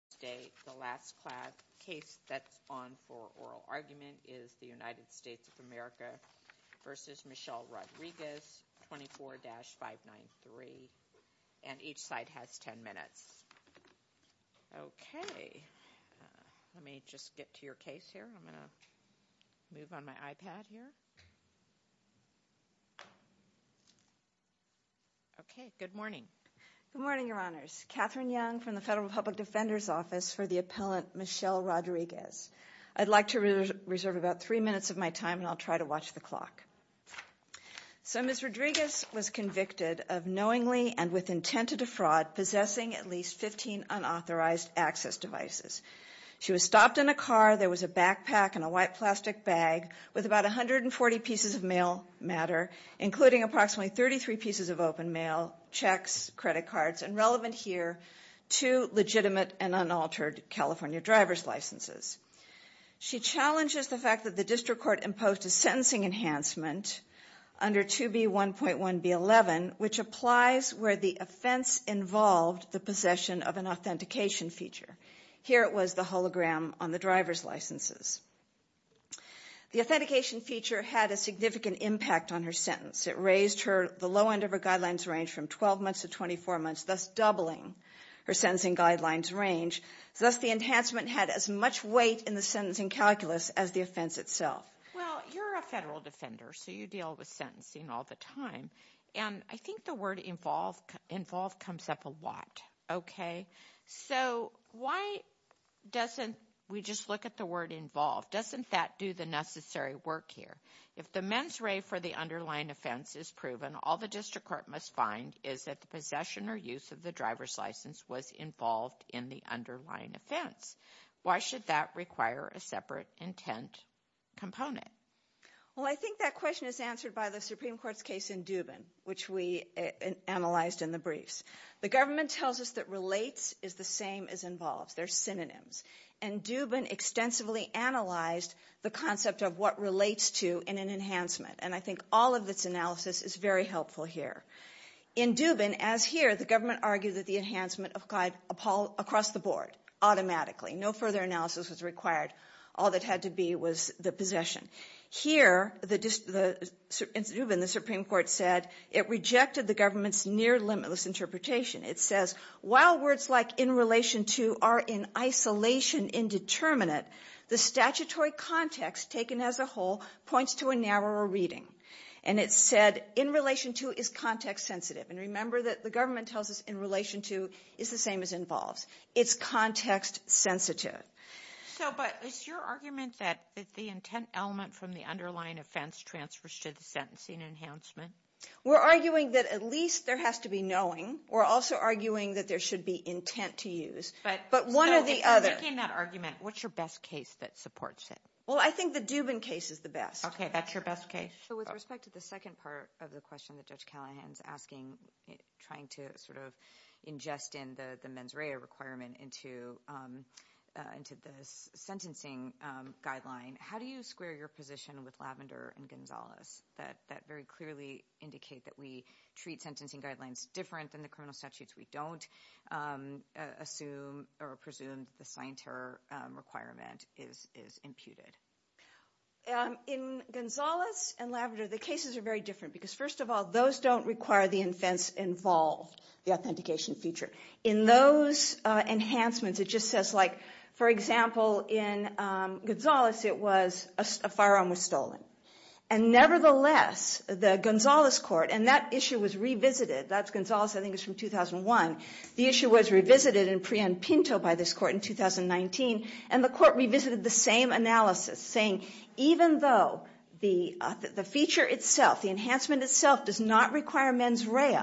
24-593. And each side has 10 minutes. Okay. Let me just get to your case here. I'm going to move on my iPad here. Okay. Good morning. Good morning, Your Honors. Catherine Young from the Federal Public Defender's Office for the appellant Michelle Rodriguez. I'd like to reserve about three minutes of my time and I'll try to watch the clock. So Ms. Rodriguez was convicted of knowingly and with intent to defraud possessing at least 15 unauthorized access devices. She was stopped in a car. There was a backpack and a white plastic bag with about 140 pieces of mail matter, including approximately 33 pieces of open mail, checks, credit cards, and relevant here, two legitimate and unaltered California driver's licenses. She challenges the fact that the district court imposed a sentencing enhancement under 2B1.1B11, which applies where the offense involved the possession of an authentication feature. Here it was the hologram on the driver's licenses. The authentication feature had a significant impact on her sentence. It raised the low end of her guidelines range from 12 months to 24 months, thus doubling her sentencing guidelines range. Thus the enhancement had as much weight in the sentencing calculus as the offense itself. Well, you're a federal defender, so you deal with sentencing all the time. And I think the word involved comes up a lot. Okay. So why doesn't we just look at the word involved? Doesn't that do the necessary work here? If the mens re for the underlying offense is proven, all the district court must find is that the possession or use of the driver's license was involved in the underlying offense. Why should that require a separate intent component? Well, I think that question is answered by the Supreme Court's case in Dubin, which we analyzed in the briefs. The government tells us that relates is the same as involves. They're synonyms. And Dubin extensively analyzed the concept of what relates to in an enhancement. And I think all of its analysis is very helpful here. In Dubin, as here, the government argued that the enhancement applied across the board automatically. No further analysis was required. All that had to be was the possession. Here, in Dubin, the Supreme Court said it rejected the government's near limitless interpretation. It says, while words like in relation to are in isolation indeterminate, the statutory context taken as a whole points to a narrower reading. And it said in relation to is context sensitive. And remember that the government tells us in relation to is the same as involves. It's context sensitive. So, but it's your argument that the intent element from the underlying offense transfers to the sentencing enhancement. We're arguing that at least there has to be knowing. We're also arguing that there should be intent to use, but one or the other. In that argument, what's your best case that supports it? Well, I think the Dubin case is the best. Okay, that's your best case. So, with respect to the second part of the question that Judge Callahan's asking, trying to sort of ingest in the mens rea requirement into the sentencing guideline, how do you square your position with Lavender and Gonzalez that very clearly indicate that we treat sentencing guidelines different than the criminal statutes? We don't assume or presume the sign terror requirement is imputed. In Gonzalez and Lavender, the cases are very different because first of all, those don't require the offense involve the authentication feature. In those enhancements, it just says like, for example, in Gonzalez, it was a firearm was stolen. And nevertheless, the Gonzalez court, and that issue was revisited. That's Gonzalez, I think it's from 2001. The issue was revisited in Prien Pinto by this court in 2019, and the court revisited the same analysis, saying even though the feature itself, the enhancement itself does not require mens rea,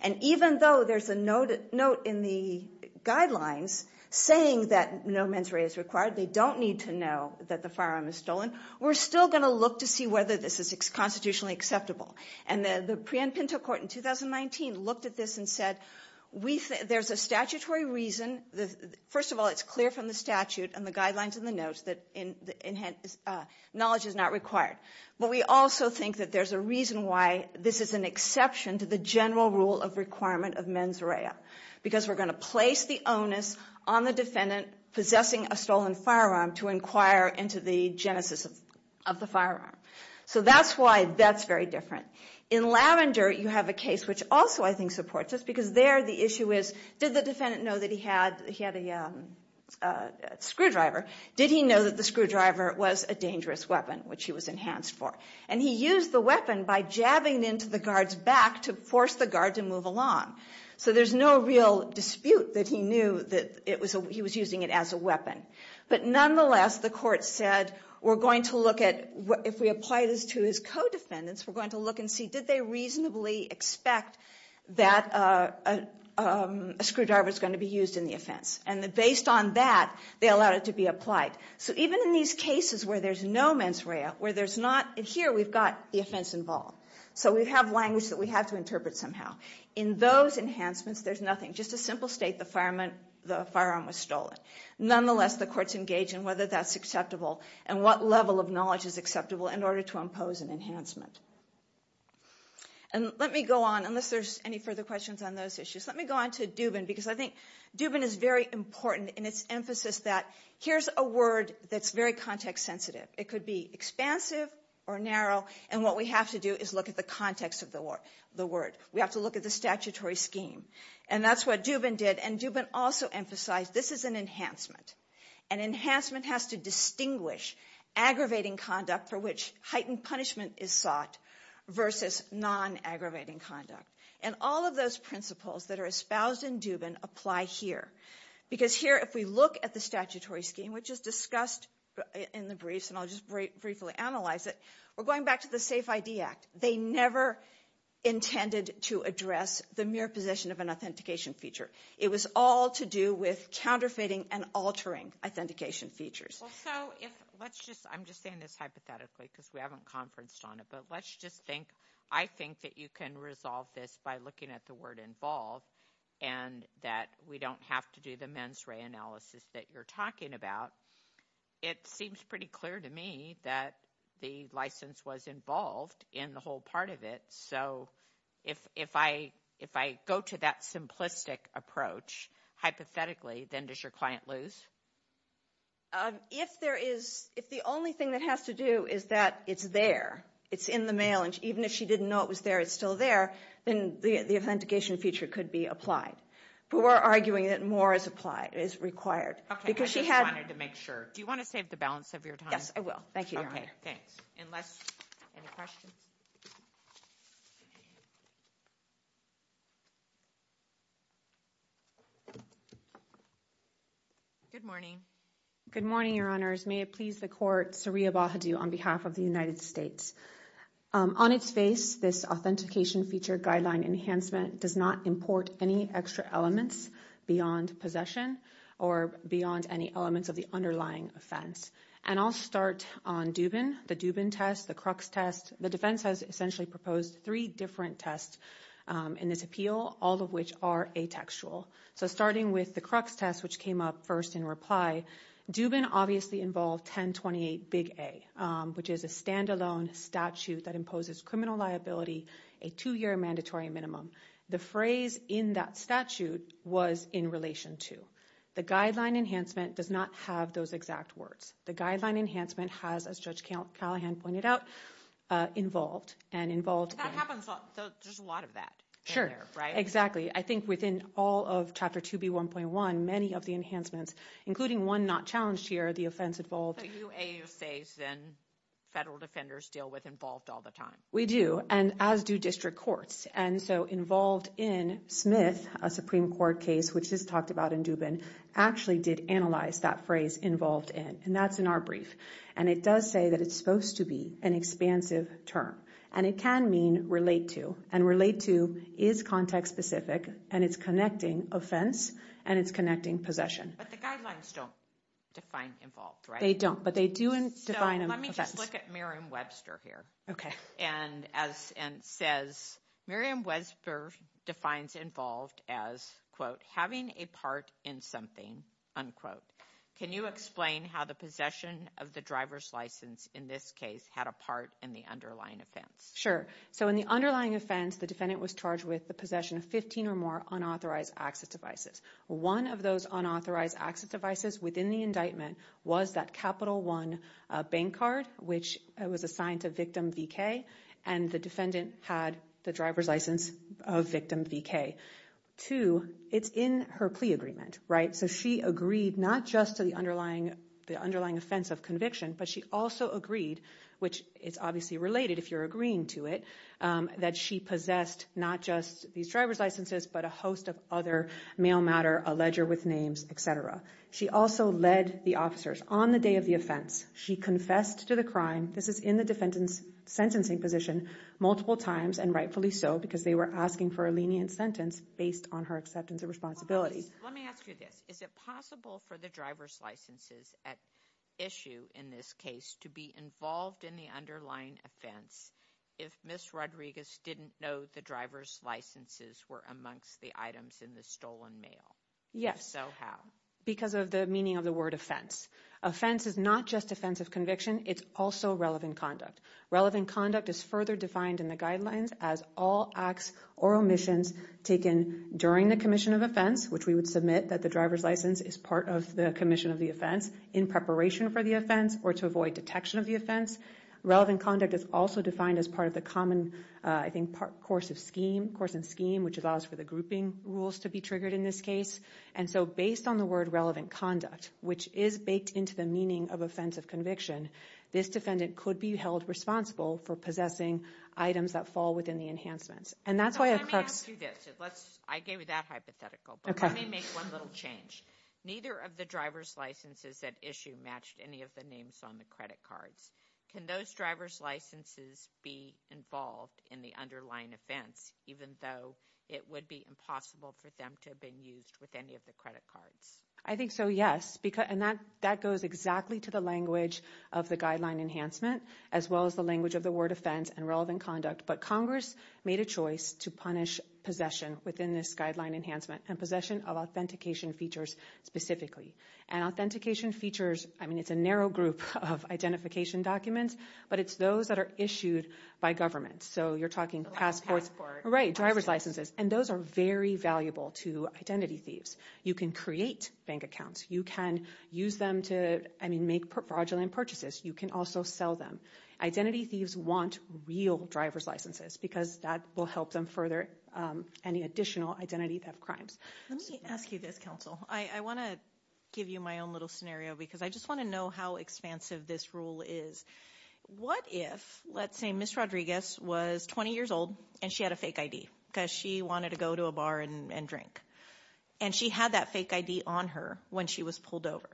and even though there's a note in the guidelines saying that no mens rea is required, they don't need to know that the firearm is stolen, we're still going to look to see whether this is constitutionally acceptable. And the Prien Pinto court in 2019 looked at this and said there's a statutory reason. First of all, it's clear from the statute and the guidelines and the notes that knowledge is not required. But we also think that there's a reason why this is an exception to the general rule of requirement of mens rea, because we're going to place the onus on the defendant possessing a stolen firearm to inquire into the genesis of the firearm. So that's why that's very different. In Lavender, you have a case which also I think supports this, because there the issue is did the defendant know that he had a screwdriver? Did he know that the screwdriver was a dangerous weapon, which he was enhanced for? And he used the weapon by jabbing into the guard's back to force the guard to move along. So there's no real dispute that he knew that he was using it as a weapon. But nonetheless, the court said we're going to look at, if we apply this to his co-defendants, we're going to look and see did they reasonably expect that a screwdriver was going to be used in the offense. And based on that, they allowed it to be applied. So even in these cases where there's no mens rea, where there's not, here we've got the offense involved. So we have language that we have to interpret somehow. In those enhancements, there's nothing. Just a simple state, the firearm was stolen. Nonetheless, the courts engage in whether that's acceptable and what level of knowledge is acceptable in order to impose an enhancement. And let me go on, unless there's any further questions on those issues. Let me go on to Dubin, because I think Dubin is very important in its emphasis that here's a word that's very context sensitive. It could be expansive or narrow, and what we have to do is look at the context of the word. We have to look at the statutory scheme, and that's what Dubin did. And Dubin also emphasized this is an enhancement. An enhancement has to distinguish aggravating conduct for which heightened punishment is sought versus non-aggravating conduct. And all of those principles that are espoused in Dubin apply here, because here if we look at the statutory scheme, which is discussed in the briefs, and I'll just briefly analyze it, we're going back to the SAFE-ID Act. They never intended to address the mere possession of an authentication feature. It was all to do with counterfeiting and altering authentication features. Well, so if let's just, I'm just saying this hypothetically because we haven't conferenced on it, but let's just think I think that you can resolve this by looking at the word involve and that we don't have to do the mens re analysis that you're talking about. It seems pretty clear to me that the license was involved in the whole part of it. So if I go to that simplistic approach hypothetically, then does your client lose? If there is, if the only thing that has to do is that it's there, it's in the mail, and even if she didn't know it was there, it's still there, then the authentication feature could be applied. But we're arguing that more is applied, is required. Okay, I just wanted to make sure. Do you want to save the balance of your time? Yes, I will. Thank you, Your Honor. Okay, thanks. Unless, any questions? Good morning. Good morning, Your Honors. May it please the Court, Sariya Bahadur on behalf of the United States. On its face, this authentication feature guideline enhancement does not import any extra elements beyond possession or beyond any elements of the underlying offense. And I'll start on Dubin, the Dubin test, the Crux test. The defense has essentially proposed three different tests in this appeal, all of which are atextual. So starting with the Crux test, which came up first in reply, Dubin obviously involved 1028 Big A, which is a standalone statute that imposes criminal liability, a two-year mandatory minimum. The phrase in that statute was in relation to. The guideline enhancement does not have those exact words. The guideline enhancement has, as Judge Callahan pointed out, involved and involved. That happens a lot. There's a lot of that. Sure. Exactly. I think within all of Chapter 2B1.1, many of the enhancements, including one not challenged here, the offense involved. So you say then federal defenders deal with involved all the time. We do, and as do district courts. And so involved in Smith, a Supreme Court case, which is talked about in Dubin, actually did analyze that phrase involved in. And that's in our brief. And it does say that it's supposed to be an expansive term. And it can mean relate to. And relate to is context-specific, and it's connecting offense and it's connecting possession. But the guidelines don't define involved, right? They don't, but they do define them as offense. Let me just look at Miriam Webster here. And says Miriam Webster defines involved as, quote, having a part in something, unquote. Can you explain how the possession of the driver's license in this case had a part in the underlying offense? Sure. So in the underlying offense, the defendant was charged with the possession of 15 or more unauthorized access devices. One of those unauthorized access devices within the indictment was that Capital One bank card, which was assigned to victim VK, and the defendant had the driver's license of victim VK. Two, it's in her plea agreement, right? So she agreed not just to the underlying offense of conviction, but she also agreed, which is obviously related if you're agreeing to it, that she possessed not just these driver's licenses, but a host of other mail matter, a ledger with names, etc. She also led the officers on the day of the offense. She confessed to the crime. This is in the defendant's sentencing position multiple times, and rightfully so because they were asking for a lenient sentence based on her acceptance of responsibility. Let me ask you this. Is it possible for the driver's licenses at issue in this case to be involved in the underlying offense if Ms. Rodriguez didn't know the driver's licenses were amongst the items in the stolen mail? Yes. So how? Because of the meaning of the word offense. Offense is not just offense of conviction. It's also relevant conduct. Relevant conduct is further defined in the guidelines as all acts or omissions taken during the commission of offense, which we would submit that the driver's license is part of the commission of the offense, in preparation for the offense or to avoid detection of the offense. Relevant conduct is also defined as part of the common course and scheme, which allows for the grouping rules to be triggered in this case. And so based on the word relevant conduct, which is baked into the meaning of offense of conviction, this defendant could be held responsible for possessing items that fall within the enhancements. Let me ask you this. I gave you that hypothetical, but let me make one little change. Neither of the driver's licenses at issue matched any of the names on the credit cards. Can those driver's licenses be involved in the underlying offense, even though it would be impossible for them to have been used with any of the credit cards? I think so, yes. And that goes exactly to the language of the guideline enhancement, as well as the language of the word offense and relevant conduct. But Congress made a choice to punish possession within this guideline enhancement and possession of authentication features specifically. And authentication features, I mean, it's a narrow group of identification documents, but it's those that are issued by government. So you're talking passports, right, driver's licenses. And those are very valuable to identity thieves. You can create bank accounts. You can use them to, I mean, make fraudulent purchases. You can also sell them. Identity thieves want real driver's licenses because that will help them further any additional identity theft crimes. Let me ask you this, counsel. I want to give you my own little scenario because I just want to know how expansive this rule is. What if, let's say, Ms. Rodriguez was 20 years old and she had a fake ID because she wanted to go to a bar and drink. And she had that fake ID on her when she was pulled over.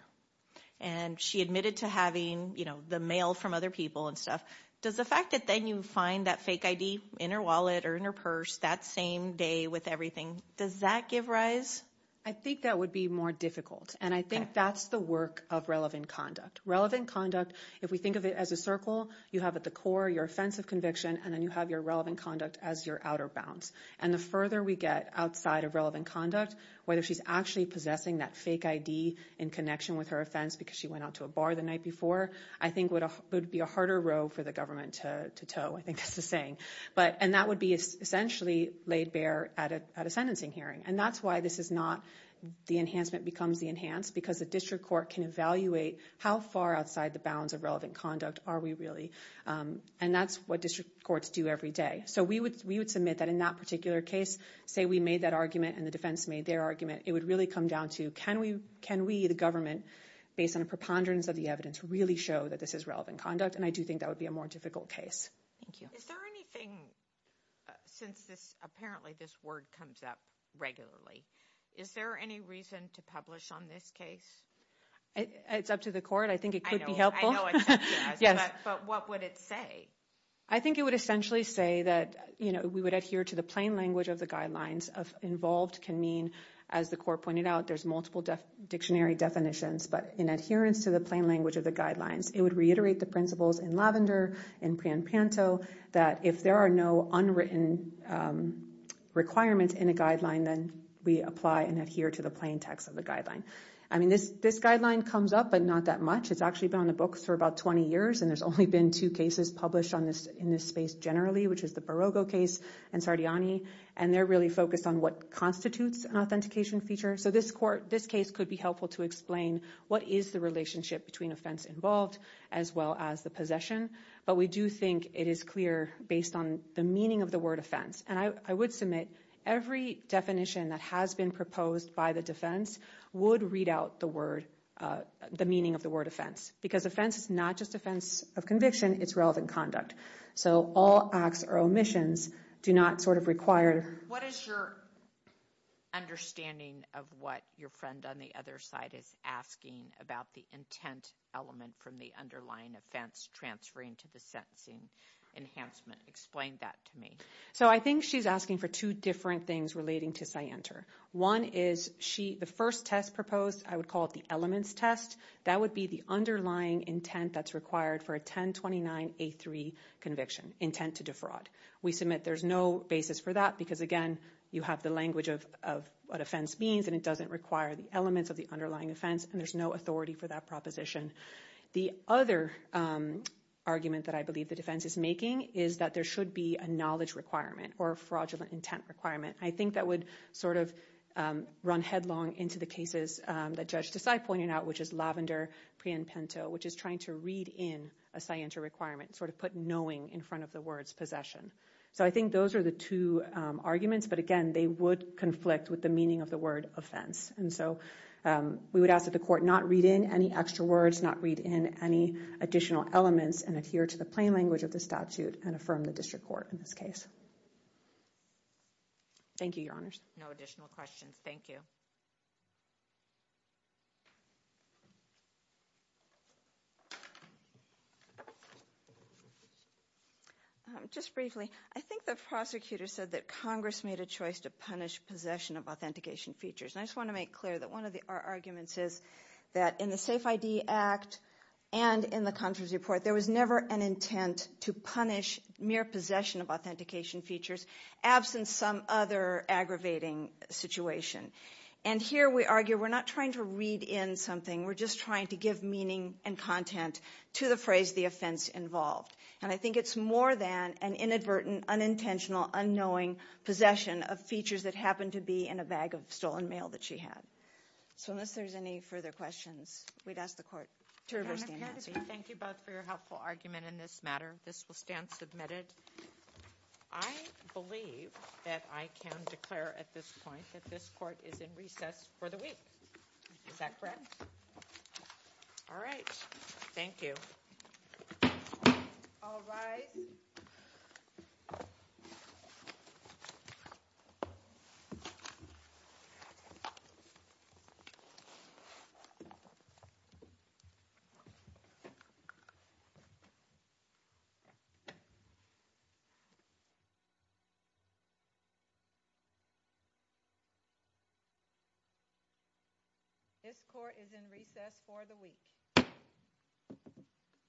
And she admitted to having, you know, the mail from other people and stuff. Does the fact that then you find that fake ID in her wallet or in her purse that same day with everything, does that give rise? I think that would be more difficult. And I think that's the work of relevant conduct. Relevant conduct, if we think of it as a circle, you have at the core your offense of conviction, and then you have your relevant conduct as your outer bounds. And the further we get outside of relevant conduct, whether she's actually possessing that fake ID in connection with her offense because she went out to a bar the night before, I think it would be a harder road for the government to tow. I think that's the saying. And that would be essentially laid bare at a sentencing hearing. And that's why this is not the enhancement becomes the enhanced, because the district court can evaluate how far outside the bounds of relevant conduct are we really. And that's what district courts do every day. So we would submit that in that particular case, say we made that argument and the defense made their argument, it would really come down to can we, the government, based on a preponderance of the evidence, really show that this is relevant conduct? And I do think that would be a more difficult case. Thank you. Is there anything, since apparently this word comes up regularly, is there any reason to publish on this case? It's up to the court. I think it could be helpful. Yes. But what would it say? I think it would essentially say that we would adhere to the plain language of the guidelines of involved can mean, as the court pointed out, there's multiple dictionary definitions. But in adherence to the plain language of the guidelines, it would reiterate the principles in Lavender and Pian Panto that if there are no unwritten requirements in a guideline, then we apply and adhere to the plain text of the guideline. I mean, this guideline comes up, but not that much. It's actually been on the books for about 20 years, and there's only been two cases published in this space generally, which is the Barogo case and Sardiani. And they're really focused on what constitutes an authentication feature. So this case could be helpful to explain what is the relationship between offense involved as well as the possession. But we do think it is clear based on the meaning of the word offense. And I would submit every definition that has been proposed by the defense would read out the meaning of the word offense, because offense is not just offense of conviction. It's relevant conduct. So all acts or omissions do not sort of require. What is your understanding of what your friend on the other side is asking about the intent element from the underlying offense transferring to the sentencing enhancement? Explain that to me. So I think she's asking for two different things relating to CYENTR. One is the first test proposed, I would call it the elements test. That would be the underlying intent that's required for a 1029A3 conviction, intent to defraud. We submit there's no basis for that because, again, you have the language of what offense means, and it doesn't require the elements of the underlying offense, and there's no authority for that proposition. The other argument that I believe the defense is making is that there should be a knowledge requirement or fraudulent intent requirement. I think that would sort of run headlong into the cases that Judge Desai pointed out, which is Lavender, which is trying to read in a CYENTR requirement, sort of put knowing in front of the words possession. So I think those are the two arguments. But, again, they would conflict with the meaning of the word offense. And so we would ask that the court not read in any extra words, not read in any additional elements, and adhere to the plain language of the statute and affirm the district court in this case. Thank you, Your Honors. No additional questions. Thank you. Just briefly, I think the prosecutor said that Congress made a choice to punish possession of authentication features. And I just want to make clear that one of our arguments is that in the SAFE-ID Act and in the conference report, there was never an intent to punish mere possession of authentication features, absent some other aggravating situation. And here we argue we're not trying to read in something. We're just trying to give meaning and content to the phrase the offense involved. And I think it's more than an inadvertent, unintentional, unknowing possession of features that happened to be in a bag of stolen mail that she had. So unless there's any further questions, we'd ask the court to reverse the announcement. Thank you both for your helpful argument in this matter. This will stand submitted. I believe that I can declare at this point that this court is in recess for the week. Is that correct? All right. Thank you. All rise. This court is in recess for the week.